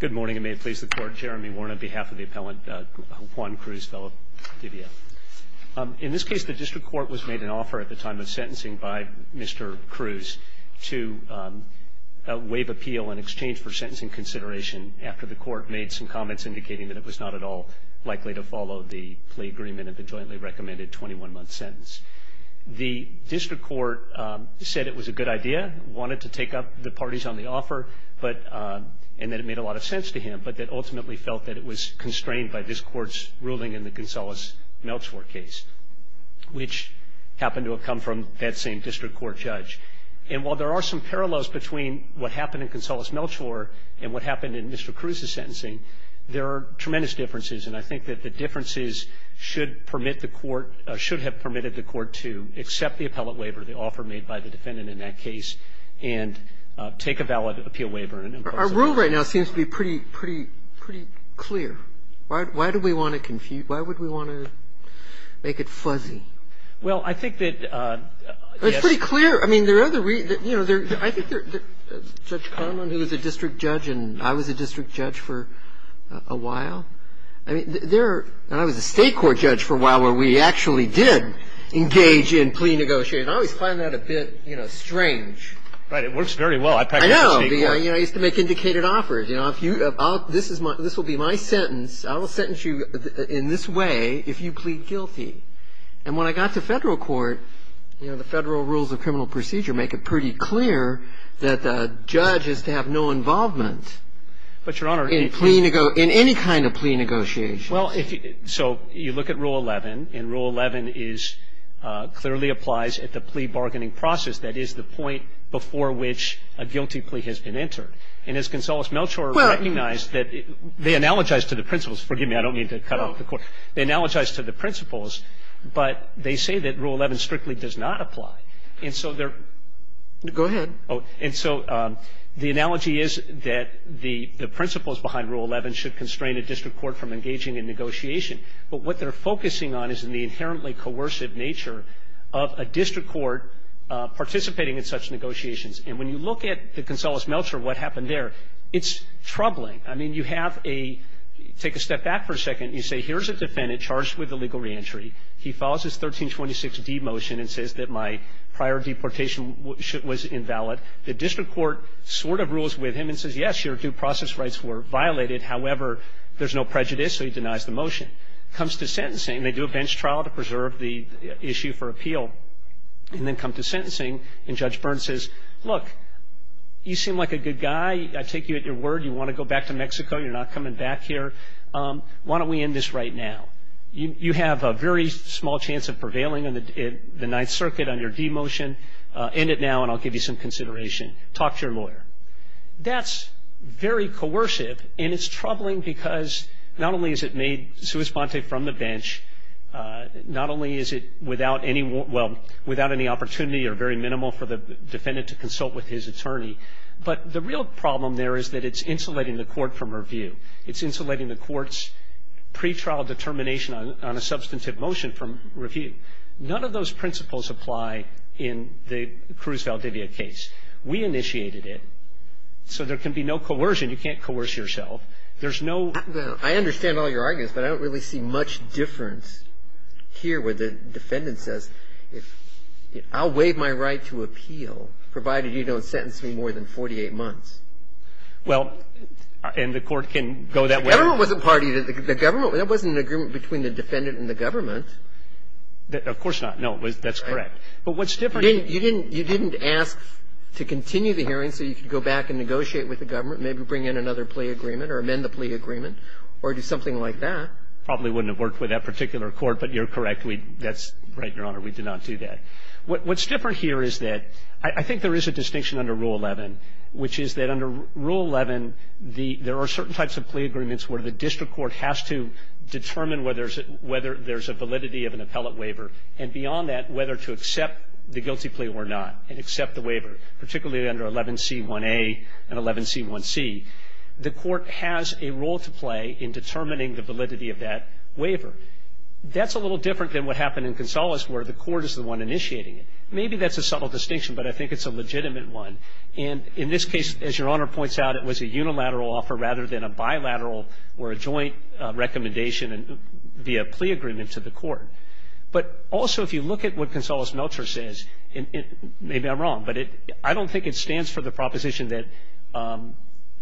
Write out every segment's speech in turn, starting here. Good morning, and may it please the court, Jeremy Warren on behalf of the appellant Juan Cruz-Valdivia. In this case, the district court was made an offer at the time of sentencing by Mr. Cruz to waive appeal in exchange for sentencing consideration after the court made some comments indicating that it was not at all likely to follow the plea agreement of the jointly recommended 21-month sentence. The district court said it was a good idea, wanted to take up the parties on the offer, and that it made a lot of sense to him, but that ultimately felt that it was constrained by this court's ruling in the Gonzales-Melchor case, which happened to have come from that same district court judge. And while there are some parallels between what happened in Gonzales-Melchor and what happened in Mr. Cruz's sentencing, there are tremendous differences, and I think that the differences should permit the court, should have permitted the court to accept the appellate waiver, the offer made by the defendant in that case, and take a valid appeal waiver. And, of course, I'm not going to go into that. Roberts. Our rule right now seems to be pretty, pretty, pretty clear. Why do we want to confuse why would we want to make it fuzzy? Well, I think that, yes. It's pretty clear. I mean, there are other reasons. Judge Kahneman, who is a district judge, and I was a district judge for a while, and I was a state court judge for a while where we actually did engage in plea negotiations. I always find that a bit strange. Right. It works very well. I used to make indicated offers. This will be my sentence. I will sentence you in this way if you plead guilty. And when I got to Federal court, you know, the Federal rules of criminal procedure make it pretty clear that a judge is to have no involvement in any kind of plea negotiations. Well, so you look at Rule 11, and Rule 11 clearly applies at the plea bargaining process. That is the point before which a guilty plea has been entered. And as Consuelos Melchor recognized that they analogize to the principles. Forgive me. I don't mean to cut off the court. They analogize to the principles, but they say that Rule 11 strictly does not apply. And so they're go ahead. And so the analogy is that the principles behind Rule 11 should constrain a district court from engaging in negotiation. But what they're focusing on is in the inherently coercive nature of a district court participating in such negotiations. And when you look at the Consuelos Melchor, what happened there, it's troubling. I mean, you have a take a step back for a second. You say, here's a defendant charged with illegal reentry. He follows his 1326D motion and says that my prior deportation was invalid. The district court sort of rules with him and says, yes, your due process rights were violated, however, there's no prejudice, so he denies the motion. Comes to sentencing, they do a bench trial to preserve the issue for appeal. And then come to sentencing, and Judge Byrne says, look, you seem like a good guy. I take you at your word. You want to go back to Mexico. You're not coming back here. Why don't we end this right now? You have a very small chance of prevailing in the Ninth Circuit on your D motion. End it now, and I'll give you some consideration. Talk to your lawyer. That's very coercive, and it's troubling because not only is it made sua sponte from the bench, not only is it without any opportunity or very minimal for the defendant to consult with his attorney, but the real problem there is that it's insulating the court from review. It's insulating the court's pretrial determination on a substantive motion from review. None of those principles apply in the Cruz-Valdivia case. We initiated it, so there can be no coercion. You can't coerce yourself. There's no ---- I understand all your arguments, but I don't really see much difference here where the defendant says, I'll waive my right to appeal, provided you don't sentence me more than 48 months. Well, and the court can go that way. The government wasn't party to the government. There wasn't an agreement between the defendant and the government. Of course not. No, that's correct. But what's different ---- You didn't ask to continue the hearing so you could go back and negotiate with the government, maybe bring in another plea agreement or amend the plea agreement or do something like that. Probably wouldn't have worked with that particular court, but you're correct. That's right, Your Honor. We did not do that. What's different here is that I think there is a distinction under Rule 11, which is that under Rule 11, there are certain types of plea agreements where the district court has to determine whether there's a validity of an appellate waiver, and beyond that, whether to accept the guilty plea or not and accept the waiver, particularly under 11C1A and 11C1C. The court has a role to play in determining the validity of that waiver. That's a little different than what happened in Gonzales, where the court is the one initiating it. Maybe that's a subtle distinction, but I think it's a legitimate one. And in this case, as Your Honor points out, it was a unilateral offer rather than a bilateral or a joint recommendation via plea agreement to the court. But also, if you look at what Gonzales-Melchor says, and maybe I'm wrong, but I don't think it stands for the proposition that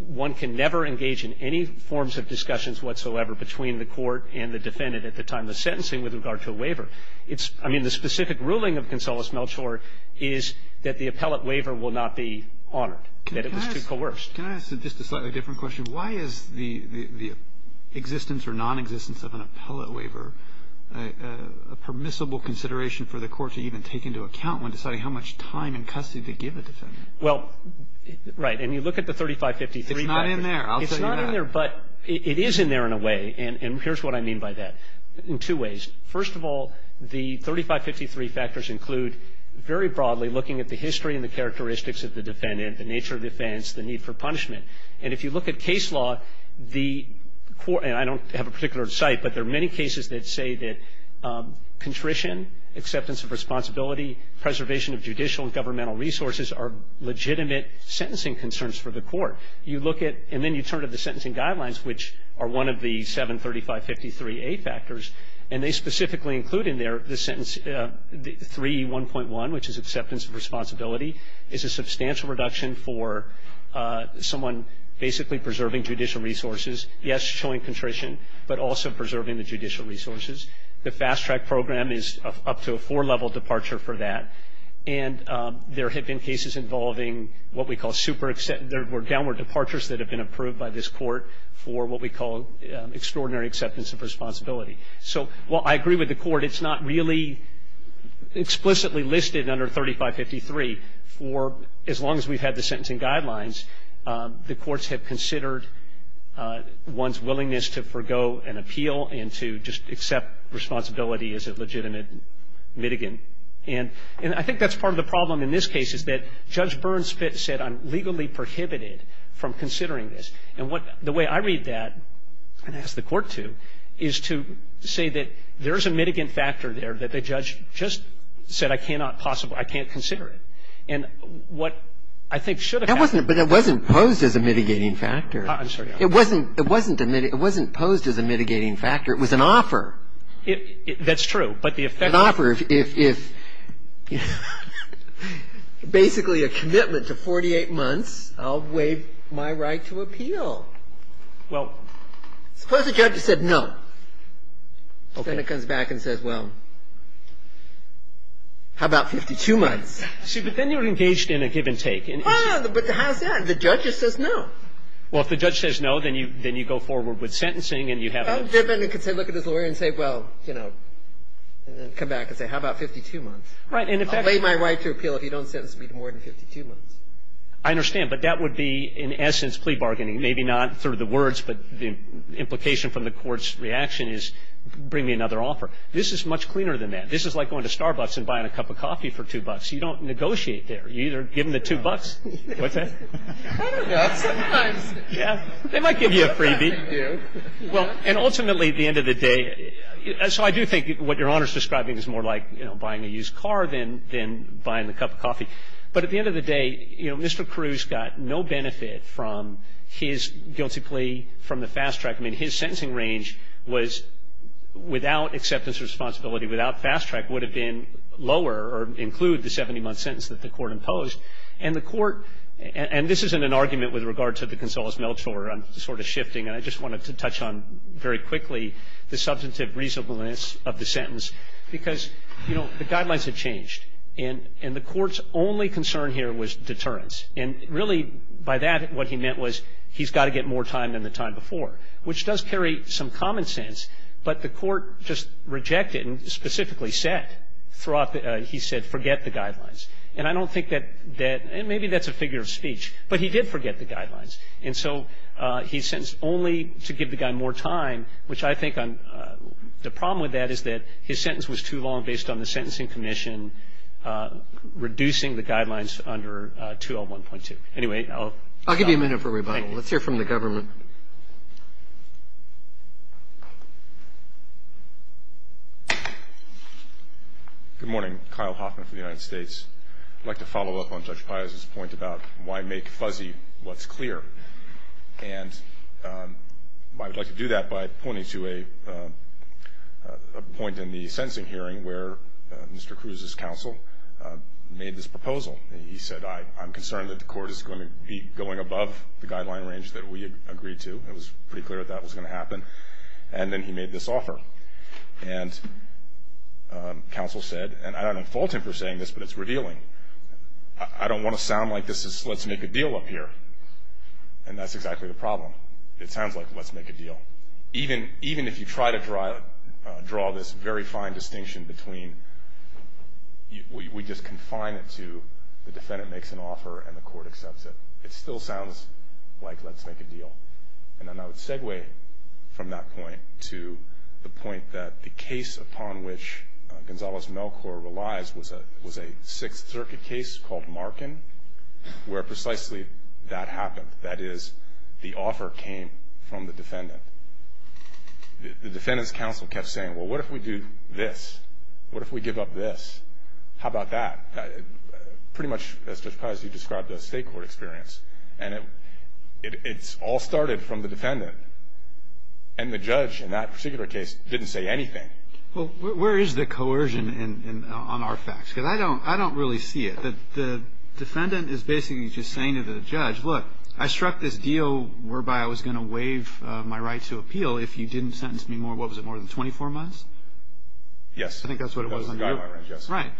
one can never engage in any forms of discussions whatsoever between the court and the defendant at the time of the sentencing with regard to a waiver. I mean, the specific ruling of Gonzales-Melchor is that the appellate waiver will not be honored, that it was too coerced. Can I ask just a slightly different question? Why is the existence or nonexistence of an appellate waiver a permissible consideration for the court to even take into account when deciding how much time and custody to give a defendant? Well, right. And you look at the 3553 factors. It's not in there. I'll tell you that. It's not in there, but it is in there in a way. And here's what I mean by that in two ways. First of all, the 3553 factors include very broadly looking at the history and the characteristics of the defendant, the nature of defense, the need for punishment. And if you look at case law, the court – and I don't have a particular site, but there are many cases that say that contrition, acceptance of responsibility, preservation of judicial and governmental resources are legitimate sentencing concerns for the court. You look at – and then you turn to the sentencing guidelines, which are one of the 73553A factors, and they specifically include in there the sentence – 3E1.1, which is acceptance of responsibility, is a substantial reduction for someone basically preserving judicial resources. Yes, showing contrition, but also preserving the judicial resources. The fast-track program is up to a four-level departure for that. And there have been cases involving what we call super – there were downward departures that have been approved by this court for what we call extraordinary acceptance of responsibility. So while I agree with the court, it's not really explicitly listed under 3553 for as long as we've had the sentencing guidelines, the courts have considered one's willingness to forgo an appeal and to just accept responsibility as a legitimate mitigant. And I think that's part of the problem in this case, is that Judge Burns said, I'm legally prohibited from considering this. And the way I read that, and ask the court to, is to say that there's a mitigant factor there that the judge just said I cannot possibly – I can't consider it. And what I think should have happened – That wasn't – but it wasn't posed as a mitigating factor. I'm sorry. It wasn't – it wasn't posed as a mitigating factor. It was an offer. That's true. But the effect – An offer if – basically a commitment to 48 months, I'll waive my right to appeal. Well – Suppose the judge said no. Okay. Then it comes back and says, well, how about 52 months? See, but then you're engaged in a give-and-take. Well, but how's that? The judge just says no. Well, if the judge says no, then you go forward with sentencing and you have – Oh, then they can look at his lawyer and say, well, you know, and then come back and say, how about 52 months? Right. And if that – I'll waive my right to appeal if you don't sentence me to more than 52 months. I understand. But that would be, in essence, plea bargaining, maybe not through the words, but the implication from the court's reaction is bring me another offer. This is much cleaner than that. This is like going to Starbucks and buying a cup of coffee for 2 bucks. You don't negotiate there. You either give them the 2 bucks. What's that? I don't know. Sometimes. Yeah. They might give you a freebie. They do. Well, and ultimately, at the end of the day – so I do think what Your Honor's describing is more like, you know, buying a used car than buying the cup of coffee. But at the end of the day, you know, Mr. Cruz got no benefit from his guilty plea from the fast track. I mean, his sentencing range was, without acceptance of responsibility, without fast track, would have been lower or include the 70-month sentence that the court imposed. And the court – and this isn't an argument with regard to the Gonzales-Melchor. I'm sort of shifting. And I just wanted to touch on very quickly the substantive reasonableness of the sentence because, you know, the guidelines have changed. And the court's only concern here was deterrence. And really, by that, what he meant was he's got to get more time than the time before, which does carry some common sense. But the court just rejected and specifically said throughout – he said, forget the guidelines. And I don't think that – and maybe that's a figure of speech. But he did forget the guidelines. And so he's sentenced only to give the guy more time, which I think the problem with that is that his sentence was too long based on the sentencing commission reducing the guidelines under 201.2. Anyway, I'll stop. I'll give you a minute for rebuttal. Thank you. Let's hear from the government. Good morning. Kyle Hoffman from the United States. I'd like to follow up on Judge Piazza's point about why make fuzzy what's clear. And I'd like to do that by pointing to a point in the sentencing hearing where Mr. Cruz's counsel made this proposal. He said, I'm concerned that the court is going to be going above the guideline range that we agreed to. It was pretty clear that that was going to happen. And then he made this offer. And counsel said – and I don't fault him for saying this, but it's revealing. I don't want to sound like this is let's make a deal up here. And that's exactly the problem. It sounds like let's make a deal. Even if you try to draw this very fine distinction between we just confine it to the defendant makes an offer and the court accepts it. It still sounds like let's make a deal. And then I would segue from that point to the point that the case upon which Judge Piazza was a Sixth Circuit case called Markin, where precisely that happened. That is, the offer came from the defendant. The defendant's counsel kept saying, well, what if we do this? What if we give up this? How about that? Pretty much, as Judge Piazza described, a state court experience. And it all started from the defendant. And the judge in that particular case didn't say anything. Well, where is the coercion on our facts? Because I don't really see it. The defendant is basically just saying to the judge, look, I struck this deal whereby I was going to waive my right to appeal if you didn't sentence me more. What was it, more than 24 months? Yes. I think that's what it was. That was the guideline, yes. Right.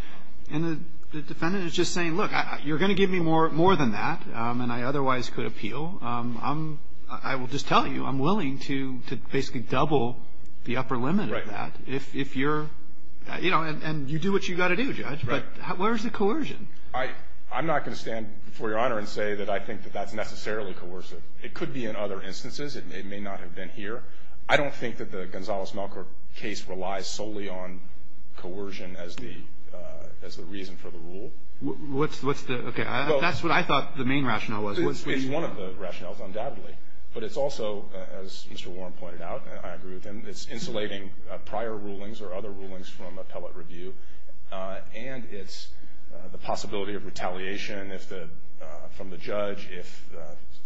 And the defendant is just saying, look, you're going to give me more than that, and I otherwise could appeal. I will just tell you, I'm willing to basically double the upper limit of that. Right. If you're, you know, and you do what you've got to do, Judge. Right. But where is the coercion? I'm not going to stand before Your Honor and say that I think that that's necessarily coercive. It could be in other instances. It may not have been here. I don't think that the Gonzalez-Melker case relies solely on coercion as the reason for the rule. What's the, okay. That's what I thought the main rationale was. It's one of the rationales, undoubtedly. But it's also, as Mr. Warren pointed out, and I agree with him, it's insulating prior rulings or other rulings from appellate review, and it's the possibility of retaliation from the judge if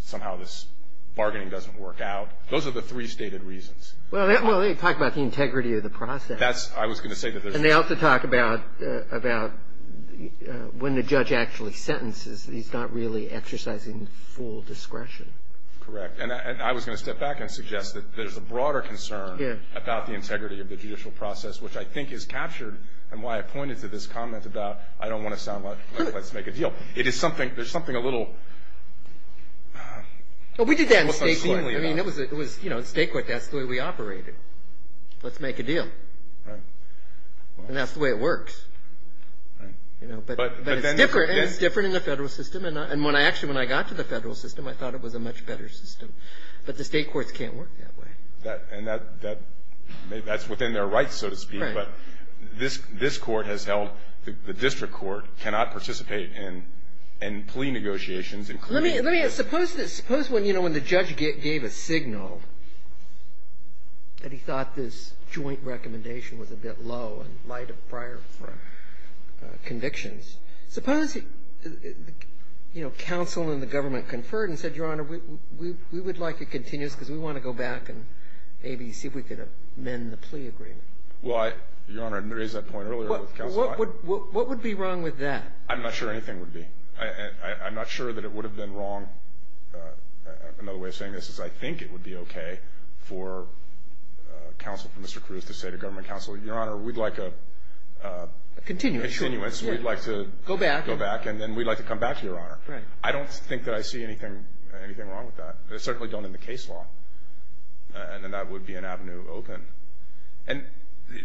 somehow this bargaining doesn't work out. Those are the three stated reasons. Well, they talk about the integrity of the process. That's, I was going to say that there's. And they also talk about when the judge actually sentences, he's not really exercising full discretion. Correct. And I was going to step back and suggest that there's a broader concern about the integrity of the judicial process, which I think is captured in why I pointed to this comment about I don't want to sound like let's make a deal. It is something, there's something a little. Well, we did that in state court. I mean, it was, you know, in state court that's the way we operated. Let's make a deal. Right. And that's the way it works. Right. But it's different in the federal system. And when I actually, when I got to the federal system, I thought it was a much better system. But the state courts can't work that way. And that's within their rights, so to speak. Right. But this court has held the district court cannot participate in plea negotiations. Let me, let me, suppose this, suppose when, you know, when the judge gave a signal that he thought this joint recommendation was a bit low in light of prior convictions, suppose, you know, counsel and the government conferred and said, Your Honor, we would like to continue this because we want to go back and maybe see if we could amend the plea agreement. Well, Your Honor, I raised that point earlier with counsel. What would be wrong with that? I'm not sure anything would be. I'm not sure that it would have been wrong. Another way of saying this is I think it would be okay for counsel, for Mr. Cruz, to say to government counsel, Your Honor, we'd like a continuance. We'd like to go back and then we'd like to come back to Your Honor. Right. I don't think that I see anything wrong with that. I certainly don't in the case law. And then that would be an avenue open. And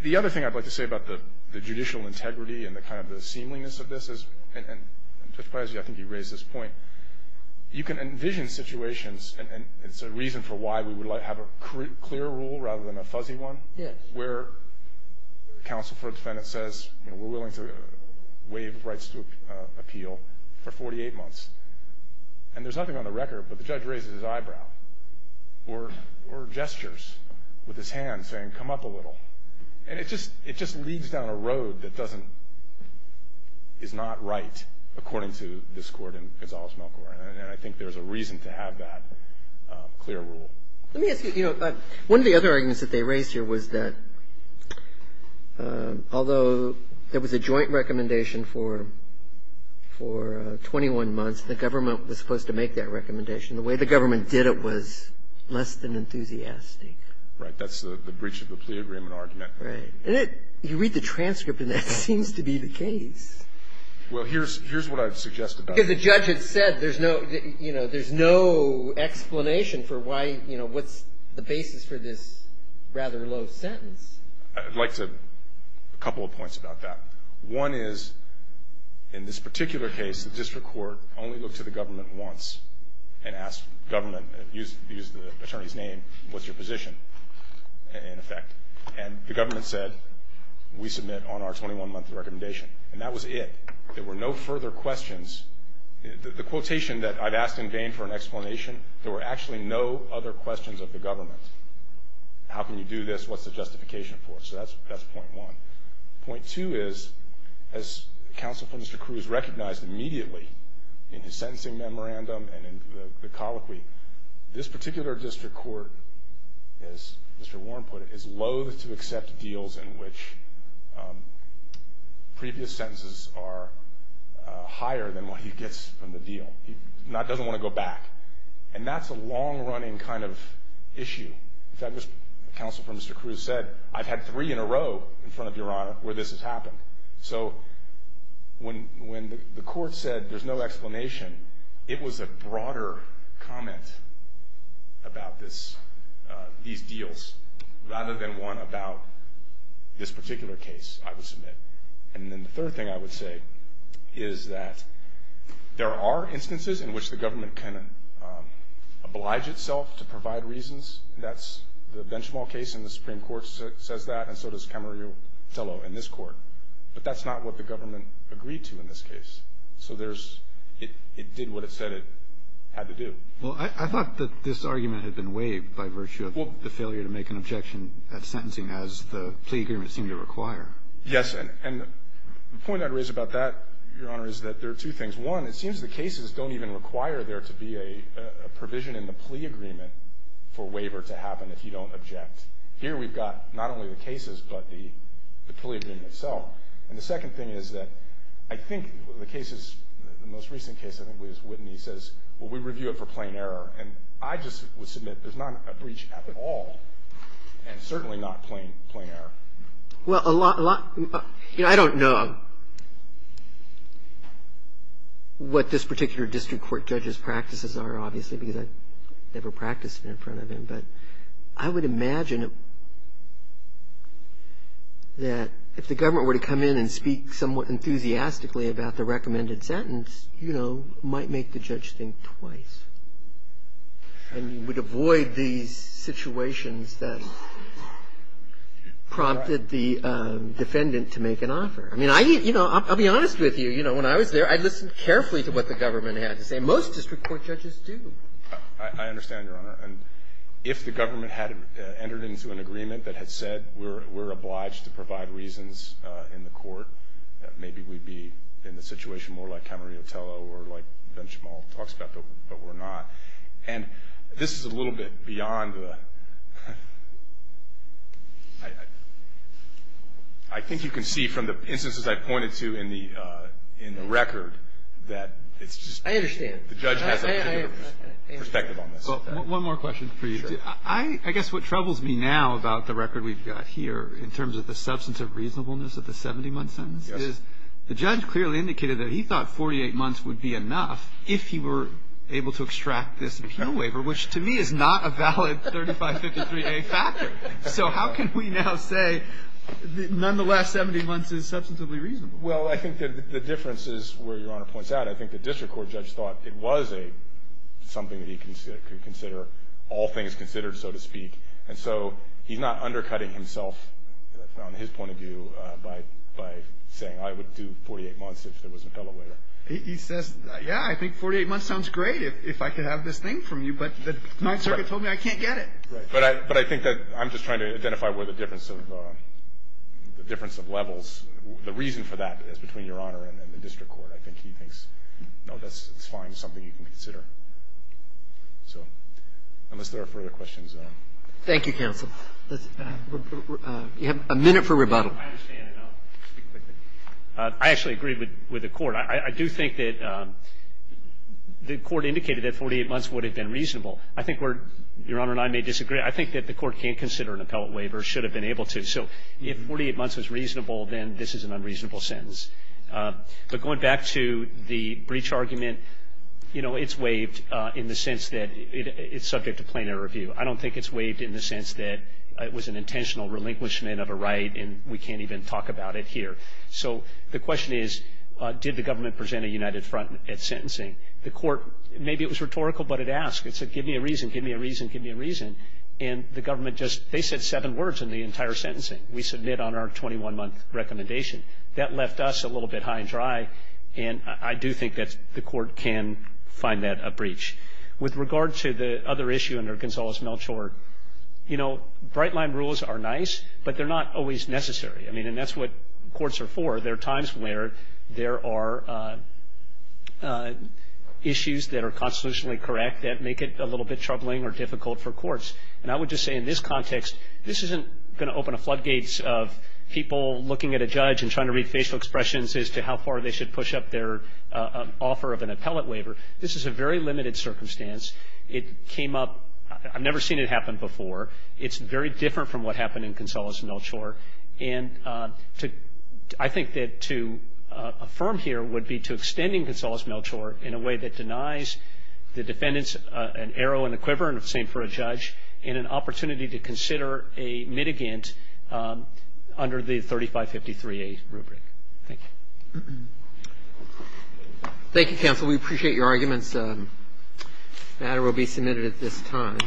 the other thing I'd like to say about the judicial integrity and the kind of the seemliness of this is, and Judge Pezzi, I think you raised this point, you can envision situations, and it's a reason for why we would like to have a clear rule rather than a fuzzy one. Yes. Where counsel for a defendant says, you know, we're willing to waive rights to appeal for 48 months. And there's nothing on the record but the judge raises his eyebrow or gestures with his hand saying come up a little. And it just leads down a road that doesn't, is not right according to this court and Gonzales-Melcore. And I think there's a reason to have that clear rule. Let me ask you, you know, one of the other arguments that they raised here was that although there was a joint recommendation for 21 months, the government was supposed to make that recommendation. The way the government did it was less than enthusiastic. Right. That's the breach of the plea agreement argument. Right. You read the transcript and that seems to be the case. Well, here's what I've suggested. Because the judge had said there's no, you know, there's no explanation for why, you know, what's the basis for this rather low sentence. I'd like to, a couple of points about that. One is, in this particular case, the district court only looked to the government once and asked government, used the attorney's name, what's your position, in effect. And the government said, we submit on our 21-month recommendation. And that was it. There were no further questions. The quotation that I've asked in vain for an explanation, there were actually no other questions of the government. How can you do this? What's the justification for it? So that's point one. Point two is, as counsel for Mr. Cruz recognized immediately in his sentencing memorandum and in the colloquy, this particular district court, as Mr. Warren put it, is loathe to accept deals in which previous sentences are higher than what he gets from the deal. He doesn't want to go back. And that's a long-running kind of issue. In fact, as counsel for Mr. Cruz said, I've had three in a row in front of Your Honor where this has happened. So when the court said there's no explanation, it was a broader comment about these deals, rather than one about this particular case, I would submit. And then the third thing I would say is that there are instances in which the government can oblige itself to provide reasons. That's the Benchmol case, and the Supreme Court says that, and so does Camarillo-Tello in this court. But that's not what the government agreed to in this case. So it did what it said it had to do. Well, I thought that this argument had been waived by virtue of the failure to make an objection at sentencing, as the plea agreement seemed to require. Yes, and the point I'd raise about that, Your Honor, is that there are two things. One, it seems the cases don't even require there to be a provision in the plea agreement for waiver to happen if you don't object. Here we've got not only the cases, but the plea agreement itself. And the second thing is that I think the cases, the most recent case I think was Whitney, says, well, we review it for plain error. And I just would submit there's not a breach at all, and certainly not plain error. Well, I don't know what this particular district court judge's practices are, obviously, because I've never practiced it in front of him, but I would imagine that if the government were to come in and speak somewhat enthusiastically about the recommended sentence, you know, might make the judge think twice and would avoid these situations that prompted the defendant to make an offer. I mean, I, you know, I'll be honest with you. You know, when I was there, I listened carefully to what the government had to say. Most district court judges do. I understand, Your Honor. And if the government had entered into an agreement that had said we're obliged to provide reasons in the court, that maybe we'd be in a situation more like Camarillo Tello or like Benchamal talks about, but we're not. And this is a little bit beyond the – I think you can see from the instances I pointed to in the record that it's just – I understand. The judge has a particular perspective on this. Well, one more question for you. Sure. I guess what troubles me now about the record we've got here in terms of the substantive reasonableness of the 70-month sentence is the judge clearly indicated that he thought 48 months would be enough if he were able to extract this appeal waiver, which to me is not a valid 35, 53-day factor. So how can we now say that nonetheless 70 months is substantively reasonable? Well, I think that the difference is where Your Honor points out. And I think the district court judge thought it was something that he could consider, all things considered, so to speak. And so he's not undercutting himself on his point of view by saying I would do 48 months if there was an appellate waiver. He says, yeah, I think 48 months sounds great if I could have this thing from you, but the Ninth Circuit told me I can't get it. Right. But I think that I'm just trying to identify where the difference of levels – the reason for that is between Your Honor and the district court. I think he thinks, no, that's fine. It's something you can consider. So unless there are further questions. Thank you, counsel. You have a minute for rebuttal. I understand, and I'll speak quickly. I actually agree with the Court. I do think that the Court indicated that 48 months would have been reasonable. I think we're – Your Honor and I may disagree. I think that the Court can't consider an appellate waiver, should have been able to. So if 48 months was reasonable, then this is an unreasonable sentence. But going back to the breach argument, you know, it's waived in the sense that it's subject to plainer review. I don't think it's waived in the sense that it was an intentional relinquishment of a right, and we can't even talk about it here. So the question is, did the government present a united front at sentencing? The Court – maybe it was rhetorical, but it asked. It said, give me a reason, give me a reason, give me a reason. And the government just – they said seven words in the entire sentencing. We submit on our 21-month recommendation. That left us a little bit high and dry, and I do think that the Court can find that a breach. With regard to the other issue under Gonzales-Melchor, you know, bright-line rules are nice, but they're not always necessary. I mean, and that's what courts are for. There are times where there are issues that are constitutionally correct that make it a little bit troubling or difficult for courts. And I would just say in this context, this isn't going to open a floodgates of people looking at a judge and trying to read facial expressions as to how far they should push up their offer of an appellate waiver. This is a very limited circumstance. It came up – I've never seen it happen before. It's very different from what happened in Gonzales-Melchor. And to – I think that to affirm here would be to extending Gonzales-Melchor in a way that denies the defendants an arrow and a quiver, and the same for a judge, and an opportunity to consider a mitigant under the 3553A rubric. Thank you. Thank you, counsel. We appreciate your arguments. The matter will be submitted at this time.